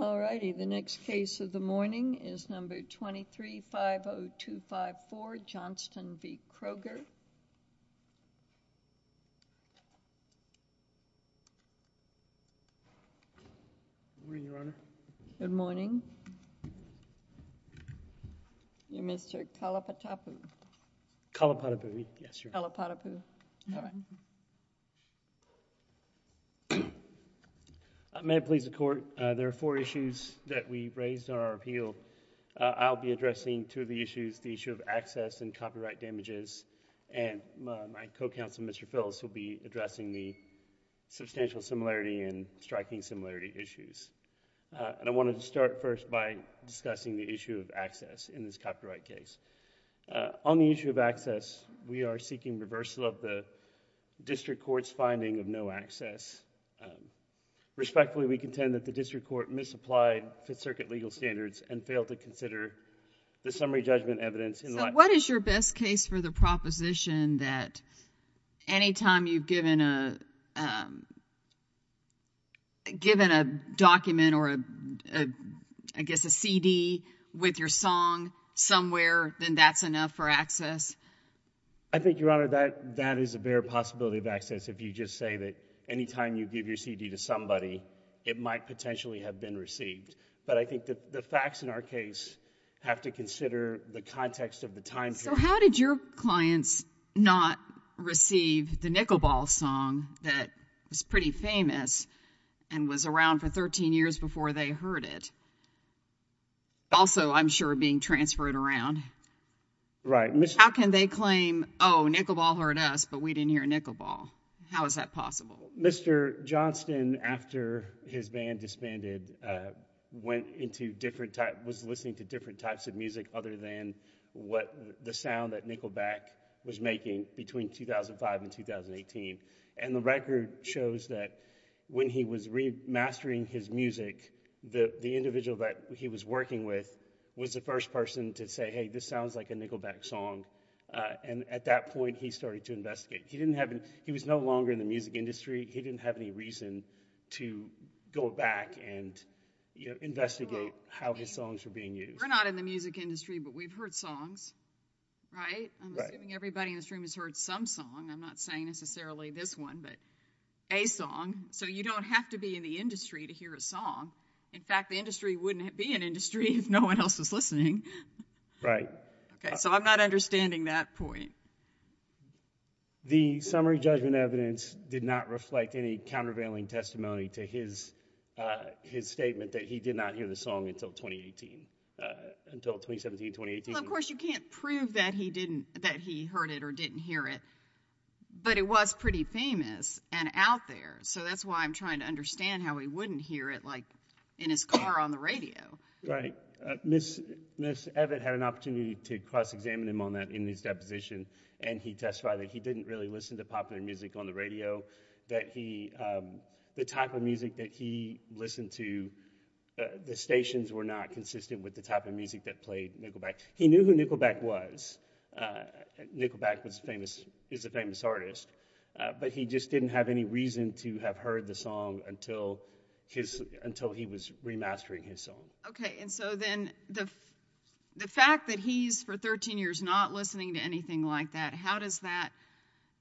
Good morning, your honor. Good morning. May it please the court, there are four issues that we raised on our appeal. I'll be addressing two of the issues, the issue of access and copyright damages, and my co-counsel, Mr. Phillips, will be addressing the substantial similarity and striking similarity issues. And I wanted to start first by discussing the issue of access in this copyright case. On the issue of access, we are seeking reversal of the district court's finding of no access. Respectfully, we contend that the district court misapplied Fifth Circuit legal standards and failed to consider the summary judgment evidence in light... I think, your honor, that is a bare possibility of access if you just say that any time you give your CD to somebody, it might potentially have been received. But I think that the facts in our case have to consider the context of the time period. So how did your clients not receive the Nickelball song that was pretty famous and was around for 13 years before they heard it? Also, I'm sure, being transferred around. Right. How can they claim, oh, Nickelball heard us, but we didn't hear Nickelball? How is that possible? Mr. Johnston, after his band disbanded, was listening to different types of music other than what the sound that Nickelback was making between 2005 and 2018. And the record shows that when he was remastering his music, the individual that he was working with was the first person to say, hey, this sounds like a Nickelback song. And at that point, he started to investigate. He was no longer in the music industry. He didn't have any reason to go back and investigate how his songs were being used. We're not in the music industry, but we've heard songs, right? Right. I'm assuming everybody in this room has heard some song. I'm not saying necessarily this one, but a song. So you don't have to be in the industry to hear a song. In fact, the industry wouldn't be an industry if no one else was listening. Right. Okay. So I'm not understanding that point. The summary judgment evidence did not reflect any countervailing testimony to his statement that he did not hear the song until 2018, until 2017, 2018. Well, of course, you can't prove that he heard it or didn't hear it, but it was pretty famous and out there. So that's why I'm trying to understand how he wouldn't hear it, like, in his car on the radio. Right. Ms. Evett had an opportunity to cross-examine him on that in his deposition, and he testified that he didn't really listen to popular music on the radio, that the type of music that he listened to, the stations were not consistent with the type of music that played Nickelback. He knew who Nickelback was. Nickelback is a famous artist, but he just didn't have any reason to have heard the song until he was remastering his song. Okay. And so then the fact that he's, for 13 years, not listening to anything like that, how does that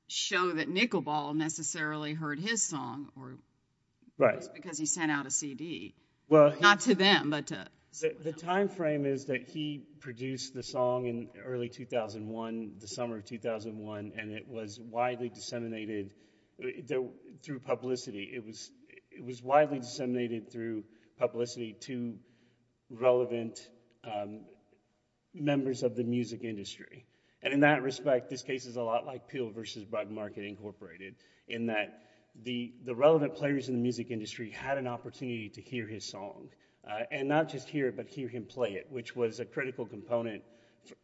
show that Nickelball necessarily heard his song or was it because he sent out a CD? Not to them, but to... The timeframe is that he produced the song in early 2001, the summer of 2001, and it was widely disseminated through publicity. It was widely disseminated through publicity to relevant members of the music industry. And in that respect, this case is a lot like Peele versus Bud Market Incorporated, in that the relevant players in the music industry had an opportunity to hear his song, and not just hear it, but hear him play it, which was a critical component.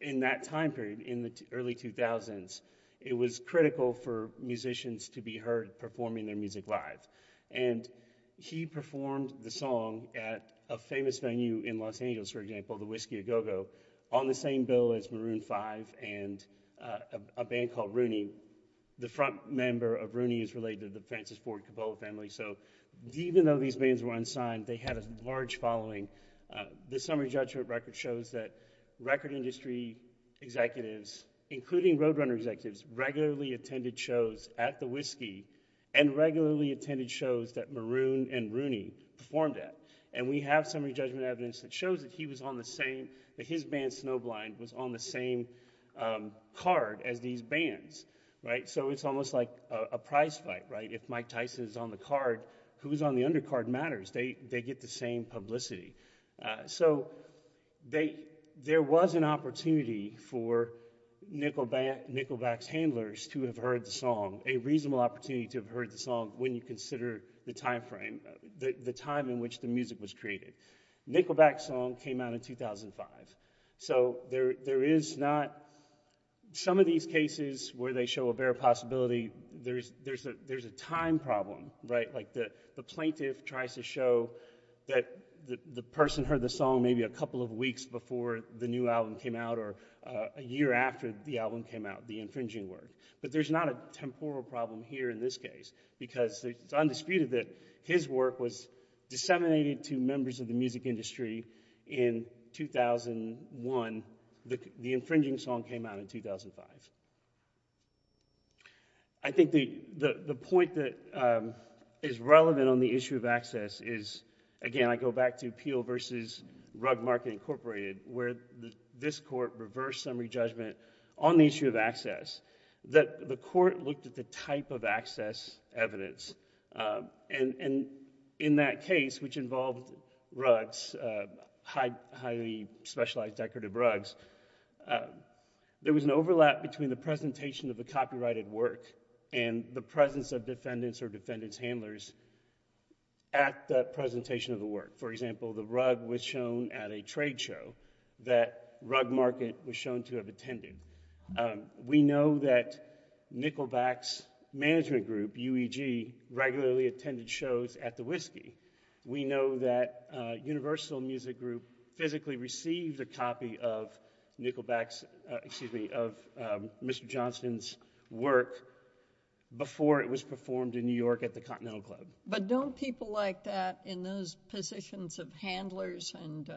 In that time period, in the early 2000s, it was critical for musicians to be heard performing their music live. And he performed the song at a famous venue in Los Angeles, for example, the Whiskey A Go-Go, on the same bill as Maroon 5 and a band called Rooney. The front member of Rooney is related to the Francis Ford Coppola family, so even though these bands were unsigned, they had a large following. The summary judgment record shows that record industry executives, including roadrunner executives, regularly attended shows at the Whiskey, and regularly attended shows that Maroon and Rooney performed at. And we have summary judgment evidence that shows that he was on the same... His band, Snowblind, was on the same card as these bands. So it's almost like a prize fight, right? If Mike Tyson is on the card, who's on the undercard matters. They get the same publicity. So there was an opportunity for Nickelback's handlers to have heard the song, a reasonable opportunity to have heard the song when you consider the time frame, the time in which the music was created. Nickelback's song came out in 2005. So there is not... Some of these cases where they show a bare possibility, there's a time problem, right? Like the plaintiff tries to show that the person heard the song maybe a couple of weeks before the new album came out, or a year after the album came out, the infringing work. But there's not a temporal problem here in this case, because it's undisputed that his work was disseminated to members of the music industry in 2001. The infringing song came out in 2005. I think the point that is relevant on the issue of access is, again, I go back to Peel versus Rugged Market Incorporated, where this court reversed summary judgment on the issue of access. The court looked at the type of access evidence, and in that case, which involved rugs, highly specialized decorative rugs, there was an overlap between the presentation of the copyrighted work and the presence of defendants or defendants' handlers at the presentation of the work. For example, the rug was shown at a trade show that Rugged Market was shown to have attended. We know that Nickelback's management group, UEG, regularly attended shows at the Whiskey. We know that Universal Music Group physically received a copy of Mr. Johnson's work before it was performed in New York at the Continental Club. But don't people like that, in those positions of handlers and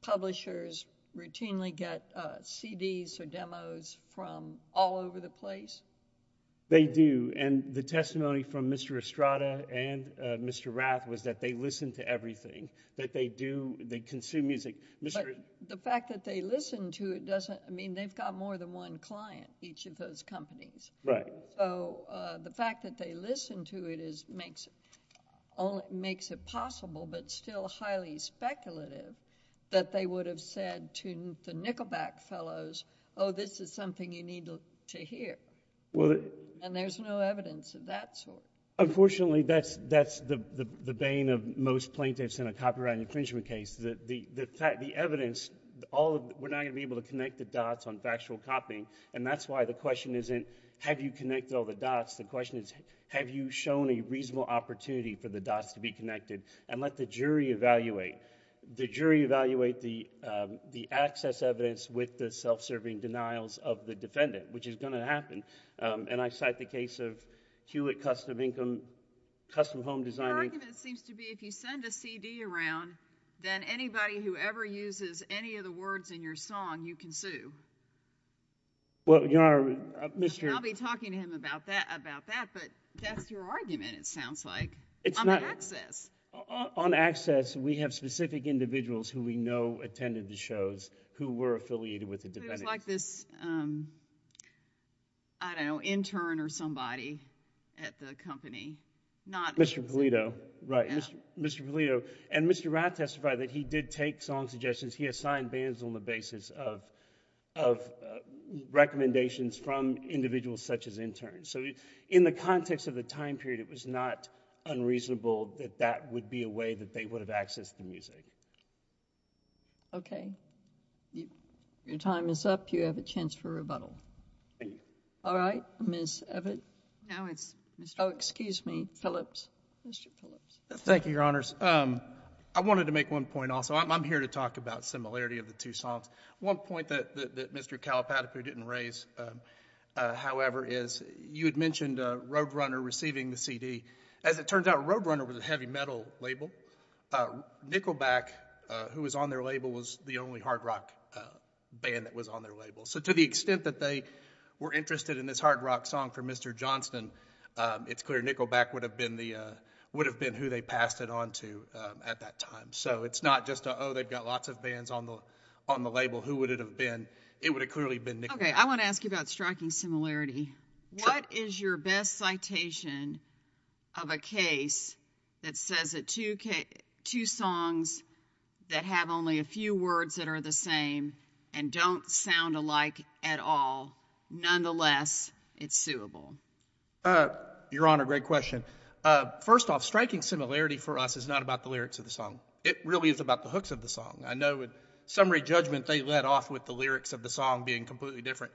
publishers, routinely get CDs or demos from all over the place? They do. The testimony from Mr. Estrada and Mr. Rath was that they listen to everything, that they consume music. The fact that they listen to it doesn't mean they've got more than one client, each of those companies. The fact that they listen to it makes it possible, but still highly speculative, that they would have said to the Nickelback fellows, oh, this is something you need to hear. There's no evidence of that sort. Unfortunately, that's the bane of most plaintiffs in a copyright infringement case. The evidence, we're not going to be able to connect the dots on factual copying, and that's why the question isn't, have you connected all the dots? The question is, have you shown a reasonable opportunity for the dots to be connected, and let the jury evaluate. The jury evaluate the access evidence with the self-serving denials of the defendant, which is going to happen. I cite the case of Hewitt Custom Home Designing... Your argument seems to be if you send a CD around, then anybody who ever uses any of the words in your song, you can sue. Well, Your Honor, Mr.... I'll be talking to him about that, but that's your argument, it sounds like, on access. On access, we have specific individuals who we know attended the shows who were affiliated with the defendants. It was like this, I don't know, intern or somebody at the company. Not... Mr. Polito, right. Yeah. Mr. Polito, and Mr. Rath testified that he did take song suggestions, he assigned bands on the basis of recommendations from individuals such as interns. In the context of the time period, it was not unreasonable that that would be a way that they would have accessed the music. Okay. Your time is up, you have a chance for rebuttal. Thank you. All right. Ms. Evatt? No, it's Mr.... Oh, excuse me. Phillips. Mr. Phillips. Thank you, Your Honors. I wanted to make one point also. I'm here to talk about similarity of the two songs. One point that Mr. Kalapadopoulos didn't raise, however, is you had mentioned Roadrunner receiving the CD. As it turns out, Roadrunner was a heavy metal label. Nickelback, who was on their label, was the only hard rock band that was on their label. To the extent that they were interested in this hard rock song for Mr. Johnston, it's clear Nickelback would have been who they passed it on to at that time. It's not just, oh, they've got lots of bands on the label, who would it have been? It would have clearly been Nickelback. Okay. I want to ask you about striking similarity. Sure. What is your best citation of a case that says that two songs that have only a few words that are the same and don't sound alike at all, nonetheless, it's suable? Your Honor, great question. First off, striking similarity for us is not about the lyrics of the song. It really is about the hooks of the song. I know in summary judgment, they led off with the lyrics of the song being completely different.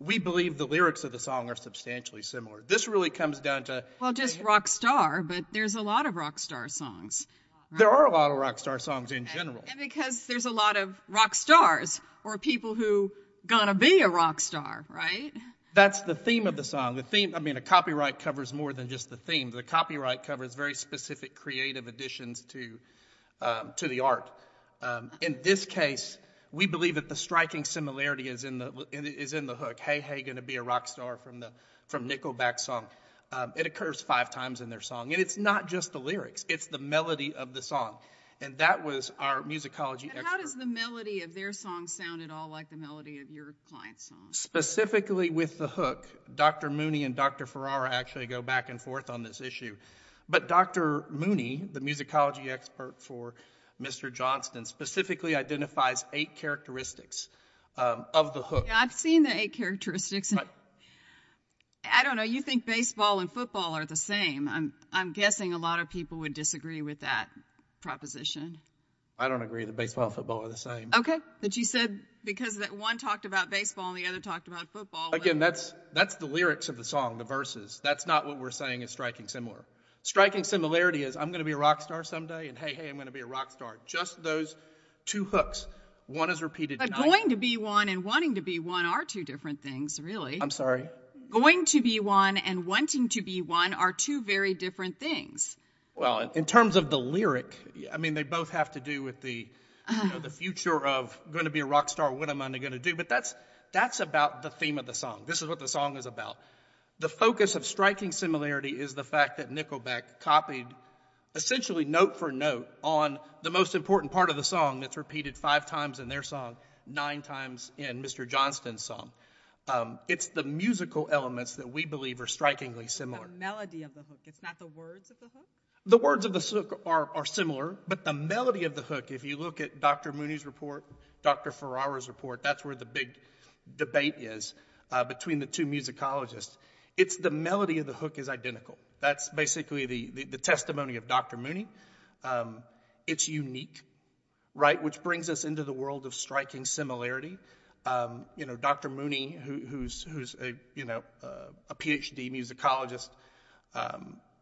We believe the lyrics of the song are substantially similar. This really comes down to- Well, just rock star, but there's a lot of rock star songs. There are a lot of rock star songs in general. Because there's a lot of rock stars or people who got to be a rock star, right? That's the theme of the song. The theme, I mean, a copyright covers more than just the theme. The copyright covers very specific creative additions to the art. In this case, we believe that the striking similarity is in the hook, hey, hey, going to be a rock star from Nickelback's song. It occurs five times in their song. It's not just the lyrics. It's the melody of the song. That was our musicology expert. How does the melody of their song sound at all like the melody of your client's song? Specifically with the hook, Dr. Mooney and Dr. Ferrara actually go back and forth on this issue. But Dr. Mooney, the musicology expert for Mr. Johnston, specifically identifies eight characteristics of the hook. I've seen the eight characteristics. I don't know. You think baseball and football are the same. I'm guessing a lot of people would disagree with that proposition. I don't agree that baseball and football are the same. Okay. But you said because one talked about baseball and the other talked about football. Again, that's the lyrics of the song, the verses. That's not what we're saying is striking similar. Striking similarity is I'm going to be a rock star someday, and hey, hey, I'm going to be a rock star. Just those two hooks. One is repeated. But going to be one and wanting to be one are two different things, really. I'm sorry? Going to be one and wanting to be one are two very different things. Well, in terms of the lyric, I mean, they both have to do with the future of going to be a rock star, what am I going to do? But that's about the theme of the song. This is what the song is about. The focus of striking similarity is the fact that Nickelback copied essentially note for note on the most important part of the song that's repeated five times in their song, nine times in Mr. Johnston's song. It's the musical elements that we believe are strikingly similar. The melody of the hook. It's not the words of the hook? The words of the hook are similar, but the melody of the hook, if you look at Dr. Mooney's report, Dr. Ferrara's report, that's where the big debate is between the two musicologists. It's the melody of the hook is identical. That's basically the testimony of Dr. Mooney. It's unique, right? Which brings us into the world of striking similarity. Dr. Mooney, who's a PhD musicologist,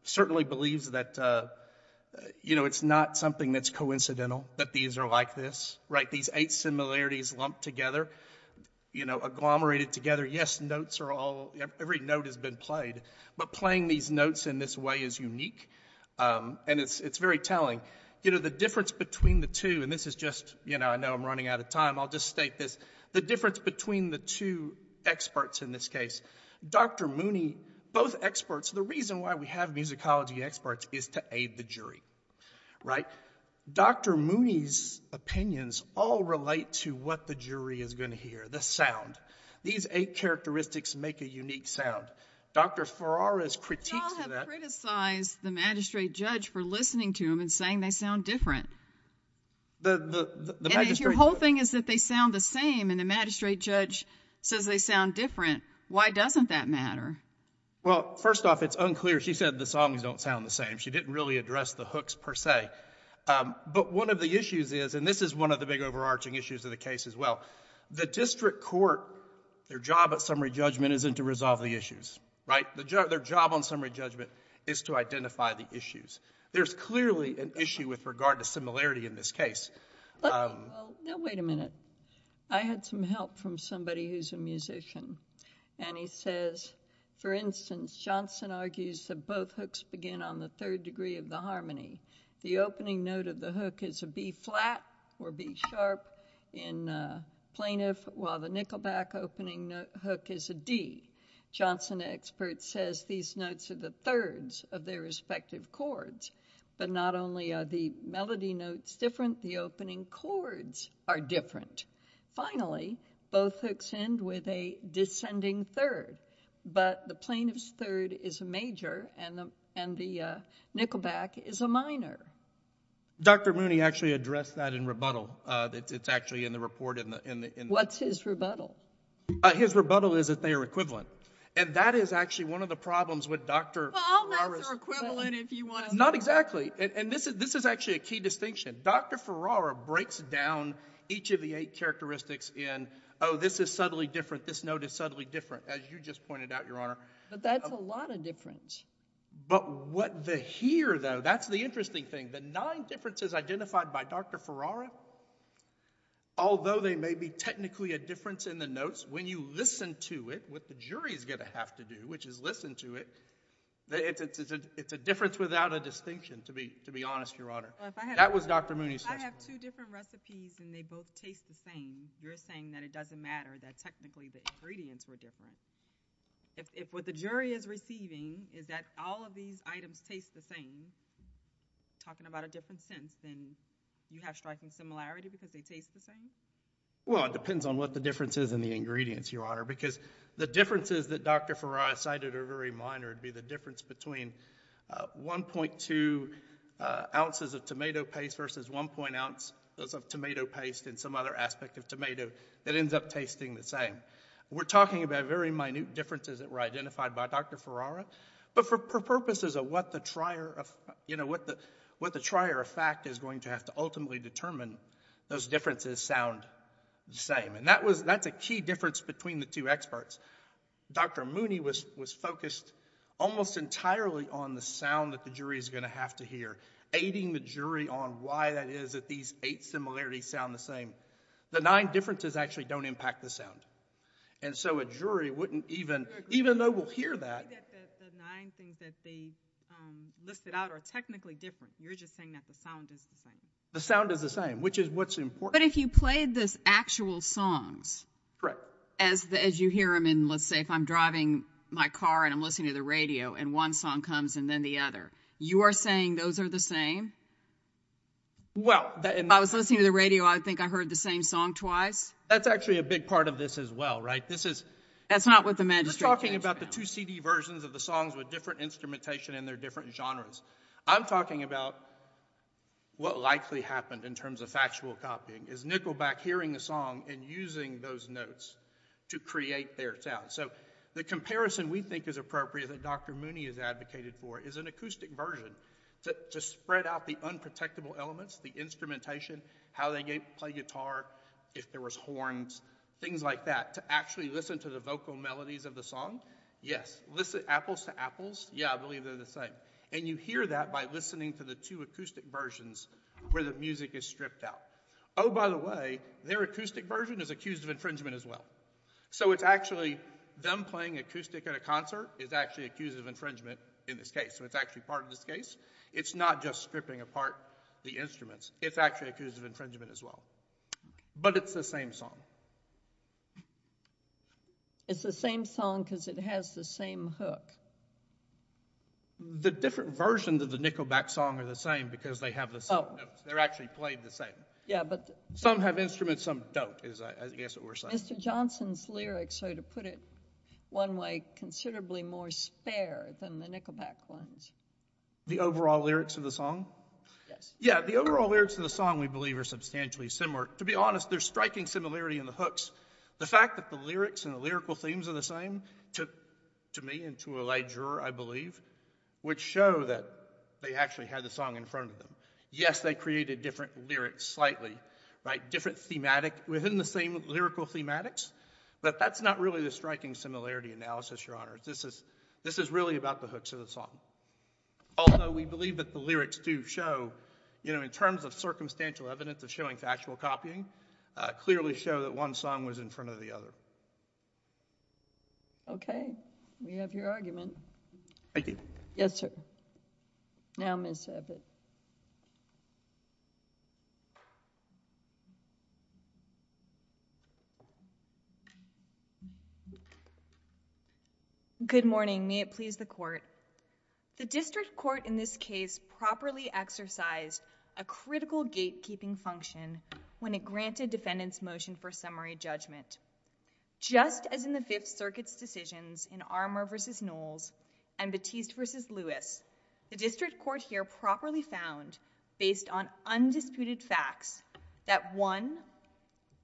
certainly believes that it's not something that's coincidental that these are like this, right? These eight similarities lumped together, agglomerated together. Yes, notes are all, every note has been played, but playing these notes in this way is unique and it's very telling. The difference between the two, and this is just, I know I'm running out of time, I'll just state this. The difference between the two experts in this case, Dr. Mooney, both experts, the reason why we have musicology experts is to aid the jury, right? Dr. Mooney's opinions all relate to what the jury is going to hear, the sound. These eight characteristics make a unique sound. Dr. Ferrara's critiques of that- You all have criticized the magistrate judge for listening to them and saying they sound different. The magistrate- And if your whole thing is that they sound the same and the magistrate judge says they sound different, why doesn't that matter? Well, first off, it's unclear. She said the songs don't sound the same. She didn't really address the hooks per se, but one of the issues is, and this is one of the big overarching issues of the case as well, the district court, their job at summary judgment isn't to resolve the issues, right? Their job on summary judgment is to identify the issues. There's clearly an issue with regard to similarity in this case. Well, now wait a minute. I had some help from somebody who's a musician, and he says, for instance, Johnson argues that both hooks begin on the third degree of the harmony. The opening note of the hook is a B flat or B sharp in plaintiff, while the nickelback opening hook is a D. Johnson experts says these notes are the thirds of their respective chords, but not only are the melody notes different, the opening chords are different. Finally, both hooks end with a descending third, but the plaintiff's third is a major and the nickelback is a minor. Dr. Mooney actually addressed that in rebuttal. It's actually in the report in the- What's his rebuttal? His rebuttal is that they are equivalent, and that is actually one of the problems with Dr. Ferrara's- Well, all notes are equivalent if you want to- Not exactly, and this is actually a key distinction. Dr. Ferrara breaks down each of the eight characteristics in, oh, this is subtly different, this note is subtly different, as you just pointed out, Your Honor. But that's a lot of difference. But what the here, though, that's the interesting thing. The nine differences identified by Dr. Ferrara, although they may be technically a difference in the notes, when you listen to it, what the jury's going to have to do, which is listen to it, it's a difference without a distinction, to be honest, Your Honor. That was Dr. Mooney's testimony. If I have two different recipes and they both taste the same, you're saying that it doesn't matter that technically the ingredients were different. If what the jury is receiving is that all of these items taste the same, talking about a different sentence, then you have striking similarity because they taste the same? Well, it depends on what the difference is in the ingredients, Your Honor, because the differences that Dr. Ferrara cited are very minor. There'd be the difference between 1.2 ounces of tomato paste versus 1.0 ounces of tomato paste and some other aspect of tomato that ends up tasting the same. We're talking about very minute differences that were identified by Dr. Ferrara. But for purposes of what the trier of fact is going to have to ultimately determine, those differences sound the same. And that's a key difference between the two experts. Dr. Mooney was focused almost entirely on the sound that the jury is going to have to hear, aiding the jury on why that is that these eight similarities sound the same. The nine differences actually don't impact the sound. And so a jury wouldn't even, even though we'll hear that. I get that the nine things that they listed out are technically different. You're just saying that the sound is the same. The sound is the same, which is what's important. But if you played this actual songs, as you hear them in, let's say, if I'm driving my car and I'm listening to the radio and one song comes and then the other, you are saying those are the same? Well, I was listening to the radio. I think I heard the same song twice. That's actually a big part of this as well, right? This is... That's not what the magistrate... We're talking about the two CD versions of the songs with different instrumentation in their different genres. I'm talking about what likely happened in terms of factual copying, is Nickelback hearing a song and using those notes to create their sound. So the comparison we think is appropriate that Dr. Mooney has advocated for is an acoustic version to spread out the unprotectable elements, the instrumentation, how they play guitar, if there was horns, things like that, to actually listen to the vocal melodies of the song. Yes. Listen, apples to apples. Yeah, I believe they're the same. And you hear that by listening to the two acoustic versions where the music is stripped out. Oh, by the way, their acoustic version is accused of infringement as well. So it's actually them playing acoustic at a concert is actually accused of infringement in this case. So it's actually part of this case. It's not just stripping apart the instruments. It's actually accused of infringement as well. But it's the same song. It's the same song because it has the same hook. The different versions of the Nickelback song are the same because they have the same notes. They're actually played the same. Yeah, but some have instruments, some don't, is I guess what we're saying. Mr. Johnson's lyrics, so to put it one way, considerably more spare than the Nickelback ones. The overall lyrics of the song? Yes. Yeah, the overall lyrics of the song we believe are substantially similar. To be honest, there's striking similarity in the hooks. The fact that the lyrics and the lyrical themes are the same, to me and to a lay juror I believe, would show that they actually had the song in front of them. Yes, they created different lyrics slightly, right? Different thematic within the same lyrical thematics. But that's not really the striking similarity analysis, your honors. This is really about the hooks of the song. Although we believe that the lyrics do show, you know, in terms of circumstantial evidence of showing factual copying, clearly show that one song was in front of the other. Okay. We have your argument. Thank you. Yes, sir. Now, Ms. Abbott. Good morning. May it please the court. The district court in this case properly exercised a critical gatekeeping function when it granted defendants motion for summary judgment. Just as in the Fifth Circuit's decisions in Armour v. Knowles and Batiste v. Lewis, the district court here properly found, based on undisputed facts, that one,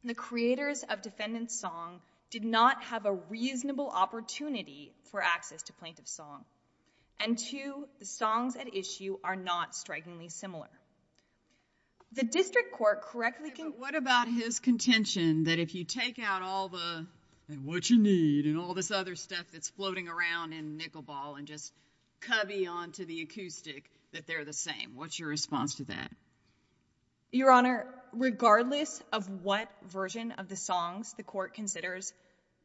the creators of defendant's song did not have a reasonable opportunity for access to plaintiff's song. And two, the songs at issue are not strikingly similar. The district court correctly can... What about his contention that if you take out all the, and what you need, and all this other stuff that's floating around in nickel ball and just cubby onto the acoustic, that they're the same? What's your response to that? Your Honor, regardless of what version of the songs the court considers,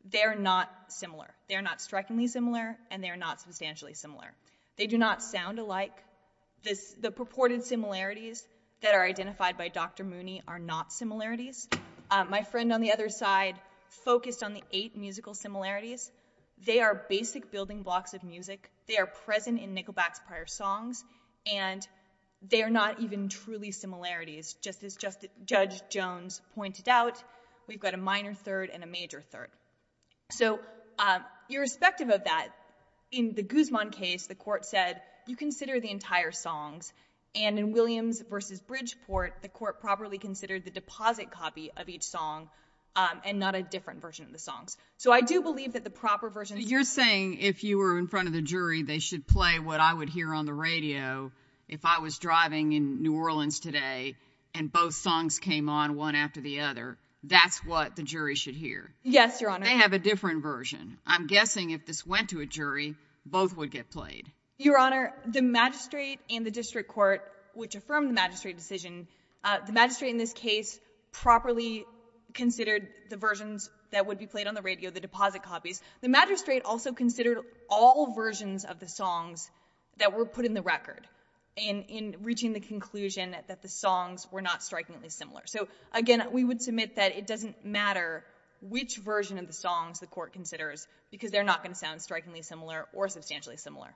they're not similar. They're not strikingly similar, and they're not substantially similar. They do not sound alike. The purported similarities that are identified by Dr. Mooney are not similarities. My friend on the other side focused on the eight musical similarities. They are basic building blocks of music. They are present in Nickelback's prior songs. And they are not even truly similarities, just as Judge Jones pointed out, we've got a minor third and a major third. So irrespective of that, in the Guzman case, the court said, you consider the entire songs. And in Williams versus Bridgeport, the court properly considered the deposit copy of each song and not a different version of the songs. So I do believe that the proper version... You're saying if you were in front of the jury, they should play what I would hear on the radio. If I was driving in New Orleans today, and both songs came on one after the other, that's what the jury should hear. Yes, Your Honor. They have a different version. I'm guessing if this went to a jury, both would get played. Your Honor, the magistrate and the district court, which affirmed the magistrate decision, the magistrate in this case properly considered the versions that would be played on the radio, the deposit copies. The magistrate also considered all versions of the songs that were put in the record in reaching the conclusion that the songs were not strikingly similar. So again, we would submit that it doesn't matter which version of the songs the court considers because they're not going to sound strikingly similar or substantially similar.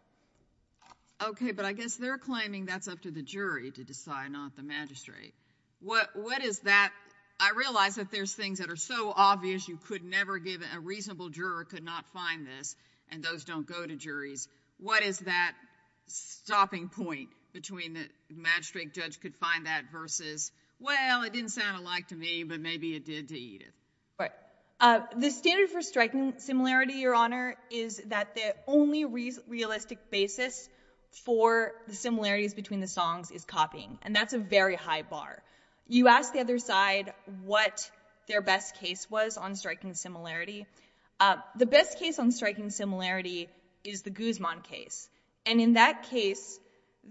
Okay. But I guess they're claiming that's up to the jury to decide, not the magistrate. What is that... I realize that there's things that are so obvious you could never give a reasonable juror could not find this, and those don't go to juries. What is that stopping point between the magistrate judge could find that versus, well, it didn't sound alike to me, but maybe it did to Edith? Right. The standard for striking similarity, Your Honor, is that the only realistic basis for the similarities between the songs is copying, and that's a very high bar. You asked the other side what their best case was on striking similarity. The best case on striking similarity is the Guzman case, and in that case,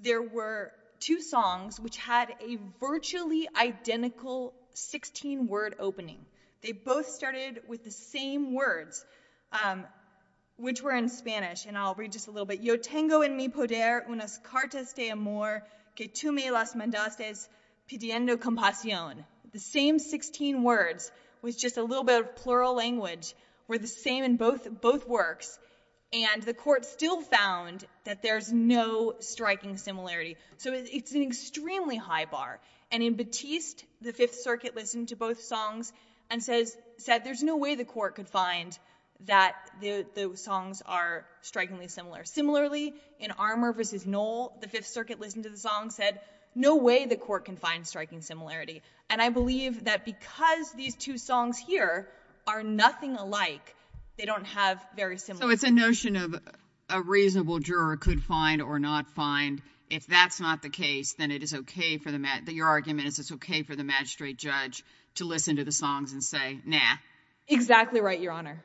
there were two songs which had a virtually identical 16-word opening. They both started with the same words, which were in Spanish, and I'll read just a little bit. Yo tengo en mi poder unas cartas de amor que tú me las mandaste pidiendo compasión. The same 16 words with just a little bit of plural language were the same in both works, and the court still found that there's no striking similarity, so it's an extremely high bar. And in Batiste, the Fifth Circuit listened to both songs and said there's no way the Similarly, in Armour v. Knoll, the Fifth Circuit listened to the song, said no way the court can find striking similarity. And I believe that because these two songs here are nothing alike, they don't have very similar... So it's a notion of a reasonable juror could find or not find. If that's not the case, then it is okay for the, your argument is it's okay for the magistrate judge to listen to the songs and say, nah. Exactly right, Your Honor.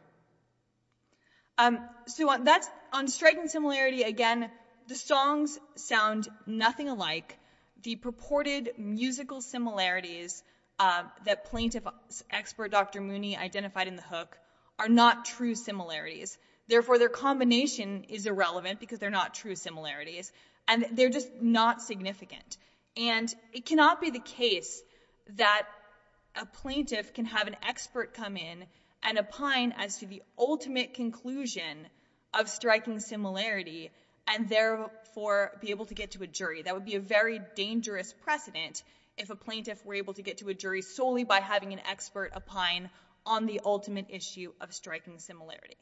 So on striking similarity, again, the songs sound nothing alike. The purported musical similarities that plaintiff expert Dr. Mooney identified in the hook are not true similarities, therefore their combination is irrelevant because they're not true similarities, and they're just not significant. And it cannot be the case that a plaintiff can have an expert come in and opine as to the ultimate conclusion of striking similarity and therefore be able to get to a jury. That would be a very dangerous precedent if a plaintiff were able to get to a jury solely by having an expert opine on the ultimate issue of striking similarity.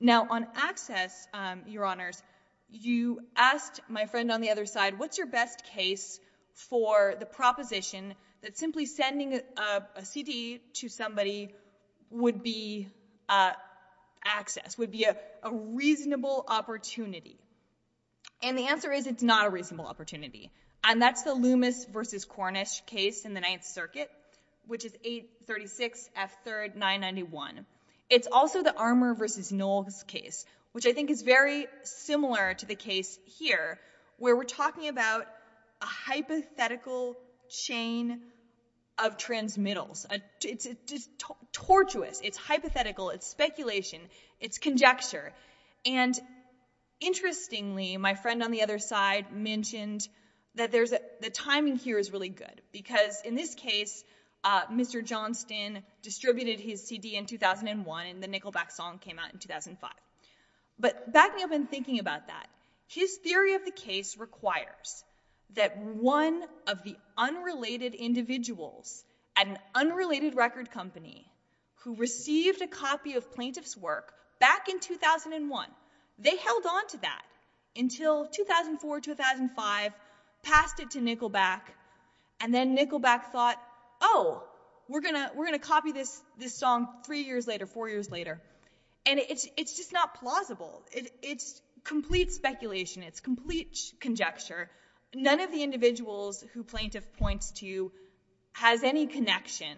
Now on access, Your Honors, you asked my friend on the other side, what's your best case for the proposition that simply sending a CD to somebody would be access, would be a reasonable opportunity? And the answer is it's not a reasonable opportunity. And that's the Loomis v. Cornish case in the Ninth Circuit, which is 836 F. 3rd, 991. It's also the Armour v. Knowles case, which I think is very similar to the case here, where we're talking about a hypothetical chain of transmittals. It's tortuous, it's hypothetical, it's speculation, it's conjecture. And interestingly, my friend on the other side mentioned that the timing here is really good, because in this case, Mr. Johnston distributed his CD in 2001 and the Nickelback song came out in 2005. But backing up and thinking about that, his theory of the case requires that one of the unrelated individuals at an unrelated record company who received a copy of plaintiff's work back in 2001, they held on to that until 2004, 2005, passed it to Nickelback, and then Nickelback thought, oh, we're going to copy this song three years later, four years later. And it's just not plausible. It's complete speculation. It's complete conjecture. None of the individuals who plaintiff points to has any connection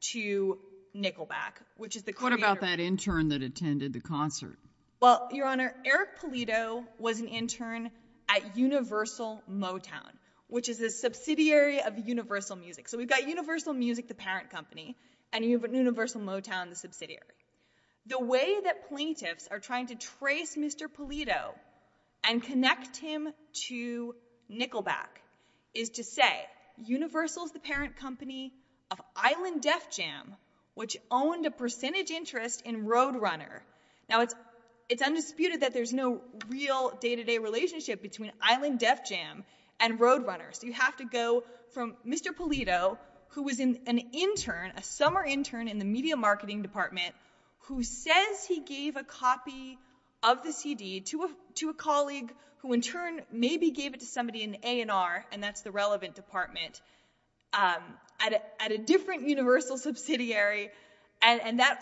to Nickelback, which is the creator. What about that intern that attended the concert? Well, Your Honor, Eric Polito was an intern at Universal Motown, which is a subsidiary of Universal Music. So we've got Universal Music, the parent company, and you have Universal Motown, the subsidiary. The way that plaintiffs are trying to trace Mr. Polito and connect him to Nickelback is to say, Universal is the parent company of Island Def Jam, which owned a percentage interest in Roadrunner. Now, it's undisputed that there's no real day-to-day relationship between Island Def Jam and Roadrunner, so you have to go from Mr. Polito, who was an intern, a summer intern in the media marketing department, who says he gave a copy of the CD to a colleague who in turn maybe gave it to somebody in A&R, and that's the relevant department, at a different Universal subsidiary, and that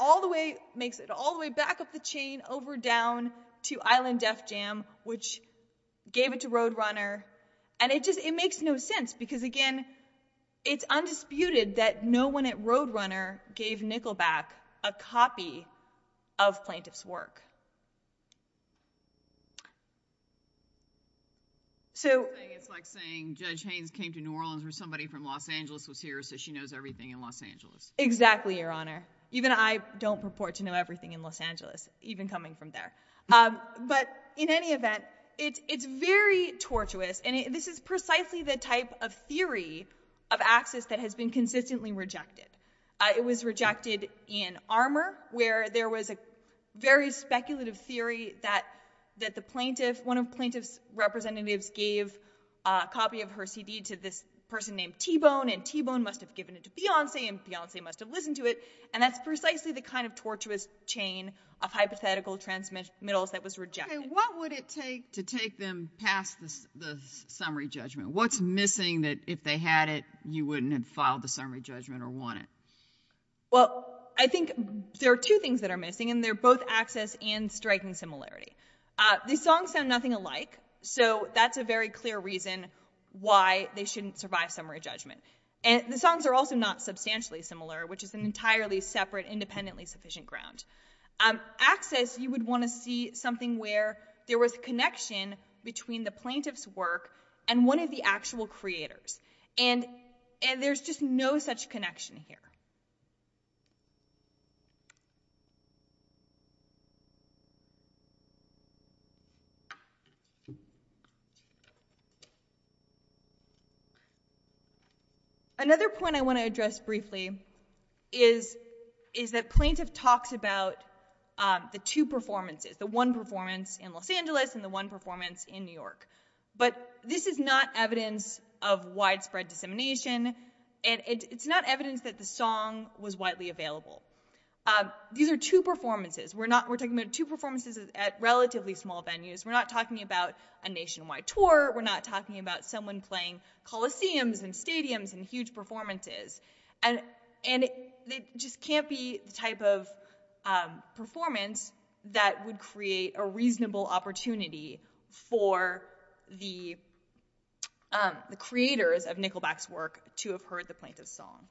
makes it all the way back up the chain over down to Island Def Jam, which gave it to Roadrunner. And it makes no sense, because again, it's undisputed that no one at Roadrunner gave Nickelback a copy of plaintiff's work. It's like saying Judge Haynes came to New Orleans where somebody from Los Angeles was here, so she knows everything in Los Angeles. Exactly, Your Honor. Even I don't purport to know everything in Los Angeles, even coming from there. But in any event, it's very tortuous, and this is precisely the type of theory of access that has been consistently rejected. It was rejected in Armour, where there was a very speculative theory that the plaintiff, one of plaintiff's representatives gave a copy of her CD to this person named T-Bone, and T-Bone must have given it to Beyonce, and Beyonce must have listened to it, and that's precisely the kind of tortuous chain of hypothetical transmittals that was rejected. Okay, what would it take to take them past the summary judgment? What's missing that if they had it, you wouldn't have filed the summary judgment or won it? Well, I think there are two things that are missing, and they're both access and striking similarity. The songs sound nothing alike, so that's a very clear reason why they shouldn't survive summary judgment. The songs are also not substantially similar, which is an entirely separate independently sufficient ground. Access, you would want to see something where there was a connection between the plaintiff's work and one of the actual creators, and there's just no such connection here. Another point I want to address briefly is that plaintiff talks about the two performances, the one performance in Los Angeles and the one performance in New York, but this is not evidence of widespread dissemination, and it's not evidence that the song was widely available. These are two performances. We're talking about two performances at relatively small venues. We're not talking about a nationwide tour. We're not talking about someone playing coliseums and stadiums and huge performances, and it just can't be the type of performance that would create a reasonable opportunity for the creators of Nickelback's work to have heard the plaintiff's song.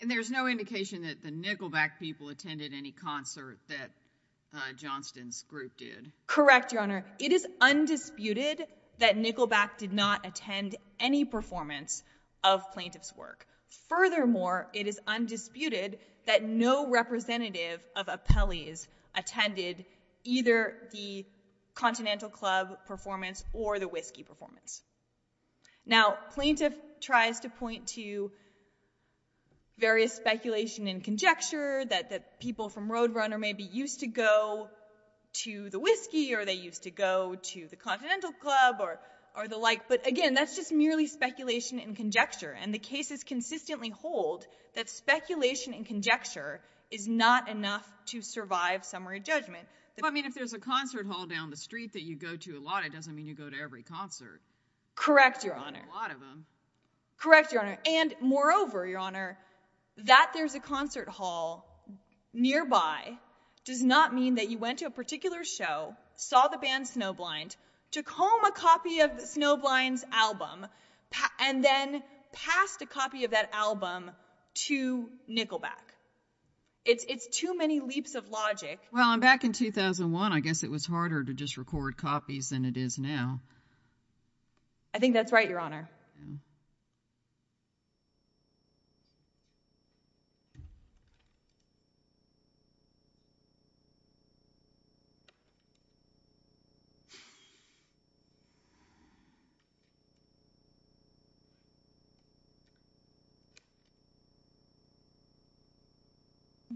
And there's no indication that the Nickelback people attended any concert that Johnston's group did. Correct, Your Honor. It is undisputed that Nickelback did not attend any performance of plaintiff's work. Furthermore, it is undisputed that no representative of Apelles attended either the Continental Club performance or the Whiskey performance. Now, plaintiff tries to point to various speculation and conjecture that people from Roadrunner maybe used to go to the Whiskey or they used to go to the Continental Club or the like, but again, that's just merely speculation and conjecture, and the cases consistently hold that speculation and conjecture is not enough to survive summary judgment. I mean, if there's a concert hall down the street that you go to a lot, it doesn't mean you go to every concert. Correct, Your Honor. A lot of them. Correct, Your Honor. And moreover, Your Honor, that there's a concert hall nearby does not mean that you went to a particular show, saw the band Snowblind, took home a copy of Snowblind's album, and then passed a copy of that album to Nickelback. It's too many leaps of logic. Well, back in 2001, I guess it was harder to just record copies than it is now. I think that's right, Your Honor.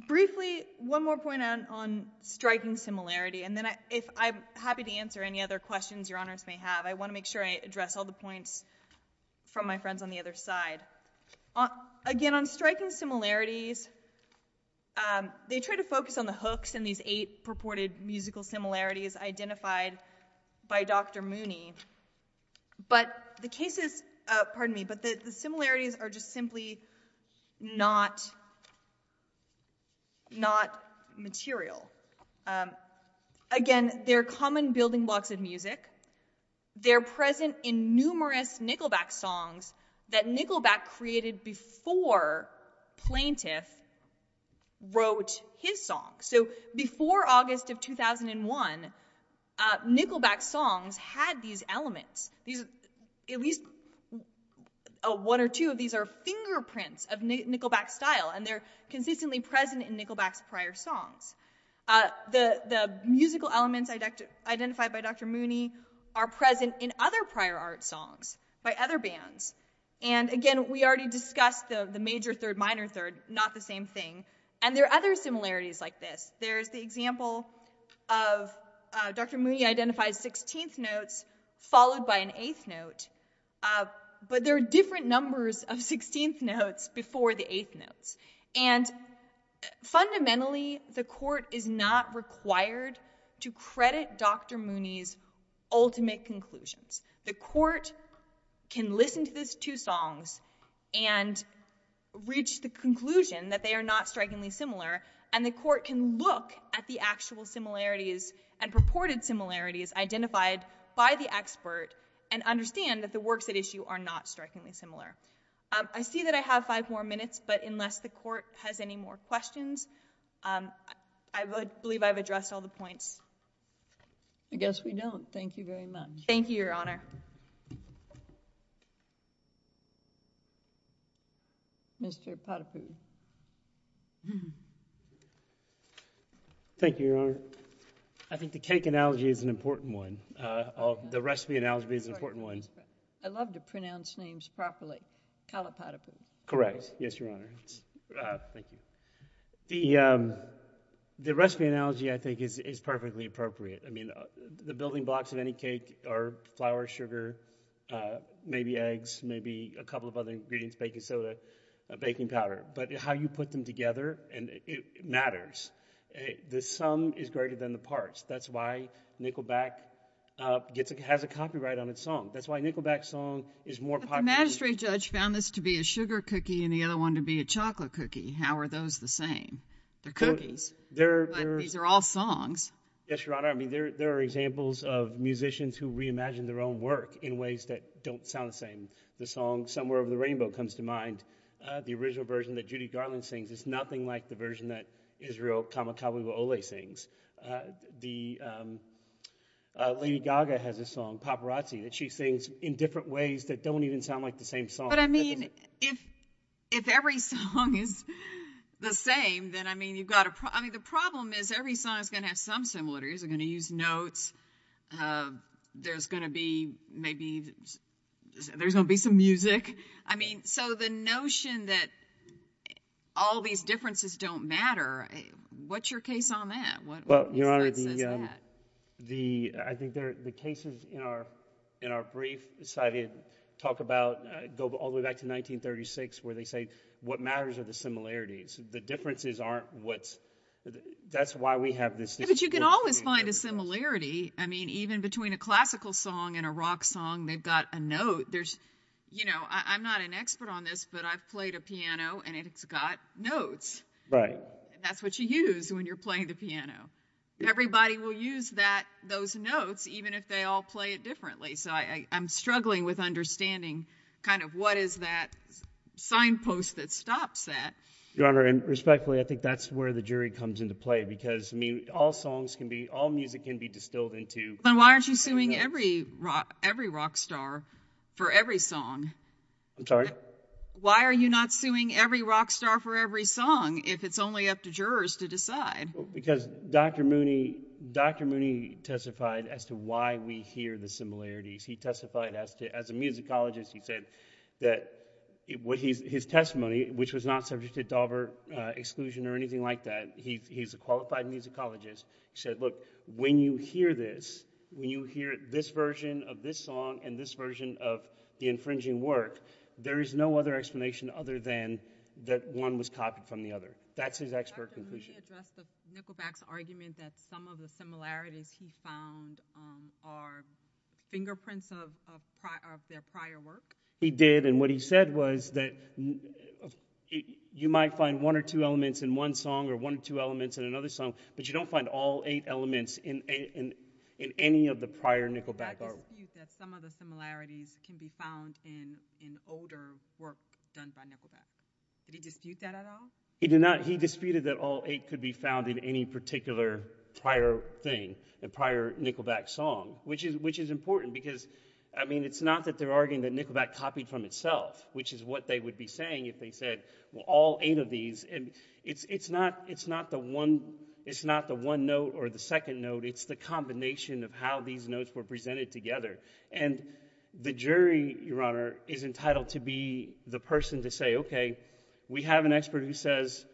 Briefly, one more point on striking similarity, and then if I'm happy to answer any other I want to make sure I address all the points from my friends on the other side. Again, on striking similarities, they try to focus on the hooks and these eight purported musical similarities identified by Dr. Mooney, but the similarities are just simply not material. Again, they're common building blocks of music. They're present in numerous Nickelback songs that Nickelback created before Plaintiff wrote his song. So before August of 2001, Nickelback songs had these elements. At least one or two of these are fingerprints of Nickelback style, and they're consistently present in Nickelback's prior songs. The musical elements identified by Dr. Mooney are present in other prior art songs by other bands. Again, we already discussed the major third, minor third, not the same thing. There are other similarities like this. There's the example of Dr. Mooney identified 16th notes followed by an eighth note, but there are different numbers of 16th notes before the eighth notes. Fundamentally, the court is not required to credit Dr. Mooney's ultimate conclusions. The court can listen to these two songs and reach the conclusion that they are not strikingly similar, and the court can look at the actual similarities and purported similarities identified by the expert and understand that the works at issue are not strikingly similar. I see that I have five more minutes, but unless the court has any more questions, I believe I've addressed all the points. I guess we don't. Thank you very much. Thank you, Your Honor. Mr. Potiphar. Thank you, Your Honor. I think the cake analogy is an important one. The recipe analogy is an important one. I love to pronounce names properly. Call it Potiphar. Correct. Yes, Your Honor. Thank you. The recipe analogy, I think, is perfectly appropriate. I mean, the building blocks of any cake are flour, sugar, maybe eggs, maybe a couple of other ingredients, baking soda, baking powder, but how you put them together matters. The sum is greater than the parts. That's why Nickelback has a copyright on its song. That's why Nickelback's song is more popular. The magistrate judge found this to be a sugar cookie and the other one to be a chocolate cookie. How are those the same? They're cookies, but these are all songs. Yes, Your Honor. I mean, there are examples of musicians who reimagined their own work in ways that don't sound the same. The song Somewhere Over the Rainbow comes to mind. The original version that Judy Garland sings is nothing like the version that Israel Kamakawiwo'ole sings. Lady Gaga has a song, Paparazzi, that she sings in different ways that don't even sound like the same song. But, I mean, if every song is the same, then, I mean, you've got to – I mean, the problem is every song is going to have some similarities. They're going to use notes. There's going to be maybe – there's going to be some music. I mean, so the notion that all these differences don't matter, what's your case on that? Well, Your Honor, the – I think the cases in our brief talk about – go all the way back to 1936 where they say what matters are the similarities. The differences aren't what's – that's why we have this – But you can always find a similarity. I mean, even between a classical song and a rock song, they've got a note. There's – you know, I'm not an expert on this, but I've played a piano and it's got notes. Right. And that's what you use when you're playing the piano. Everybody will use that – those notes even if they all play it differently. So I'm struggling with understanding kind of what is that signpost that stops that. Your Honor, and respectfully, I think that's where the jury comes into play because, I mean, all songs can be – all music can be distilled into – Then why aren't you suing every rock star for every song? I'm sorry? Why are you not suing every rock star for every song if it's only up to jurors to decide? Because Dr. Mooney testified as to why we hear the similarities. He testified as a musicologist. He said that – his testimony, which was not subject to Daubert exclusion or anything like that. He's a qualified musicologist. He said, look, when you hear this, when you hear this version of this song and this there's no other explanation other than that one was copied from the other. That's his expert conclusion. Dr. Mooney addressed the Nickelback's argument that some of the similarities he found are fingerprints of their prior work. He did, and what he said was that you might find one or two elements in one song or one or two elements in another song, but you don't find all eight elements in any of the prior Nickelback artwork. Did he dispute that some of the similarities can be found in older work done by Nickelback? Did he dispute that at all? He did not. He disputed that all eight could be found in any particular prior thing, the prior Nickelback song, which is important because, I mean, it's not that they're arguing that Nickelback copied from itself, which is what they would be saying if they said, well, all eight of these. It's not the one note or the second note. It's the combination of how these notes were presented together, and the jury, Your Honor, is entitled to be the person to say, okay, we have an expert who says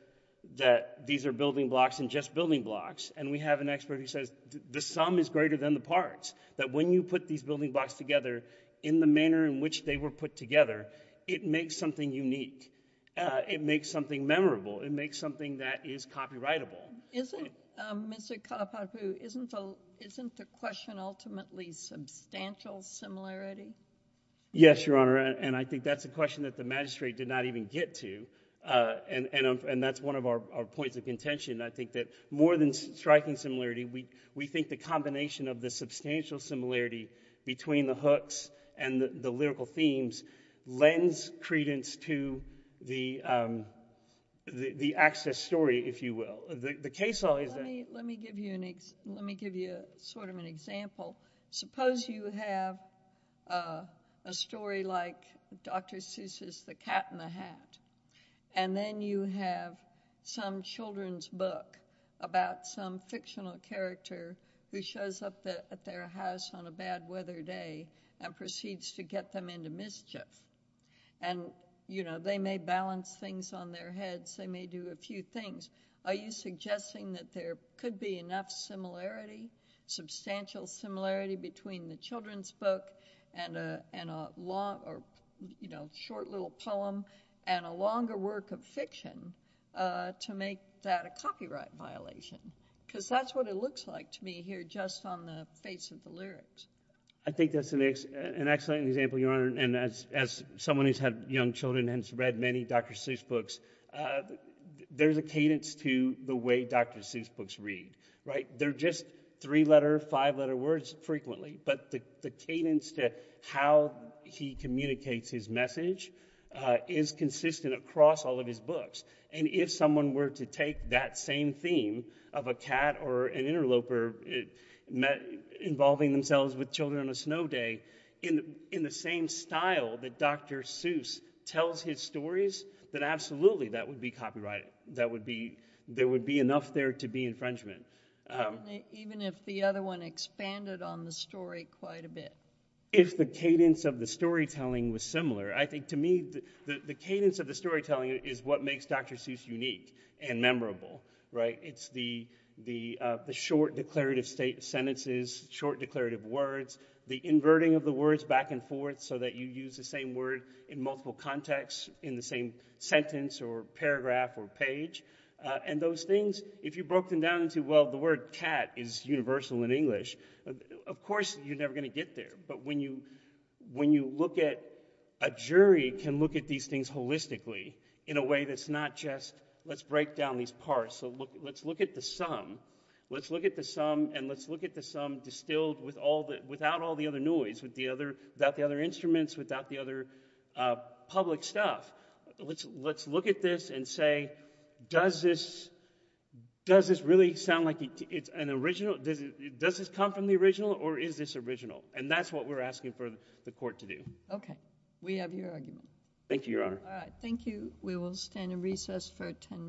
that these are building blocks and just building blocks, and we have an expert who says the sum is greater than the parts, that when you put these building blocks together in the manner in which they were put together, it makes something unique. It makes something memorable. It makes something that is copyrightable. Isn't, Mr. Kalapapu, isn't the question ultimately substantial similarity? Yes, Your Honor, and I think that's a question that the magistrate did not even get to, and that's one of our points of contention. I think that more than striking similarity, we think the combination of the substantial similarity between the hooks and the lyrical themes lends credence to the access story, if you will. Let me give you sort of an example. Suppose you have a story like Dr. Seuss's The Cat in the Hat, and then you have some children's book about some fictional character who shows up at their house on a bad weather day and proceeds to get them into mischief, and they may balance things on their heads. They may do a few things. Are you suggesting that there could be enough similarity, substantial similarity between the children's book and a short little poem and a longer work of fiction to make that a copyright violation? Because that's what it looks like to me here just on the face of the lyrics. I think that's an excellent example, Your Honor, and as someone who's had young children and has read many Dr. Seuss books, there's a cadence to the way Dr. Seuss books read, right? They're just three-letter, five-letter words frequently, but the cadence to how he communicates his message is consistent across all of his books. And if someone were to take that same theme of a cat or an interloper involving themselves with children on a snow day in the same style that Dr. Seuss tells his stories, then absolutely that would be copyrighted. There would be enough there to be infringement. Even if the other one expanded on the story quite a bit? If the cadence of the storytelling was similar, I think to me the cadence of the storytelling is what makes Dr. Seuss unique and memorable, right? It's the short declarative sentences, short declarative words, the inverting of the words back and forth so that you use the same word in multiple contexts in the same sentence or paragraph or page. And those things, if you broke them down into, well, the word cat is universal in English, of course you're never going to get there. But when you look at, a jury can look at these things holistically in a way that's not just let's break down these parts. So let's look at the sum. Let's look at the sum, and let's look at the sum distilled without all the other noise, without the other instruments, without the other public stuff. Let's look at this and say, does this really sound like it's an original? Does this come from the original, or is this original? And that's what we're asking for the court to do. OK. We have your argument. Thank you, Your Honor. All right. Thank you. Thank you. We will stand at recess for 10 minutes.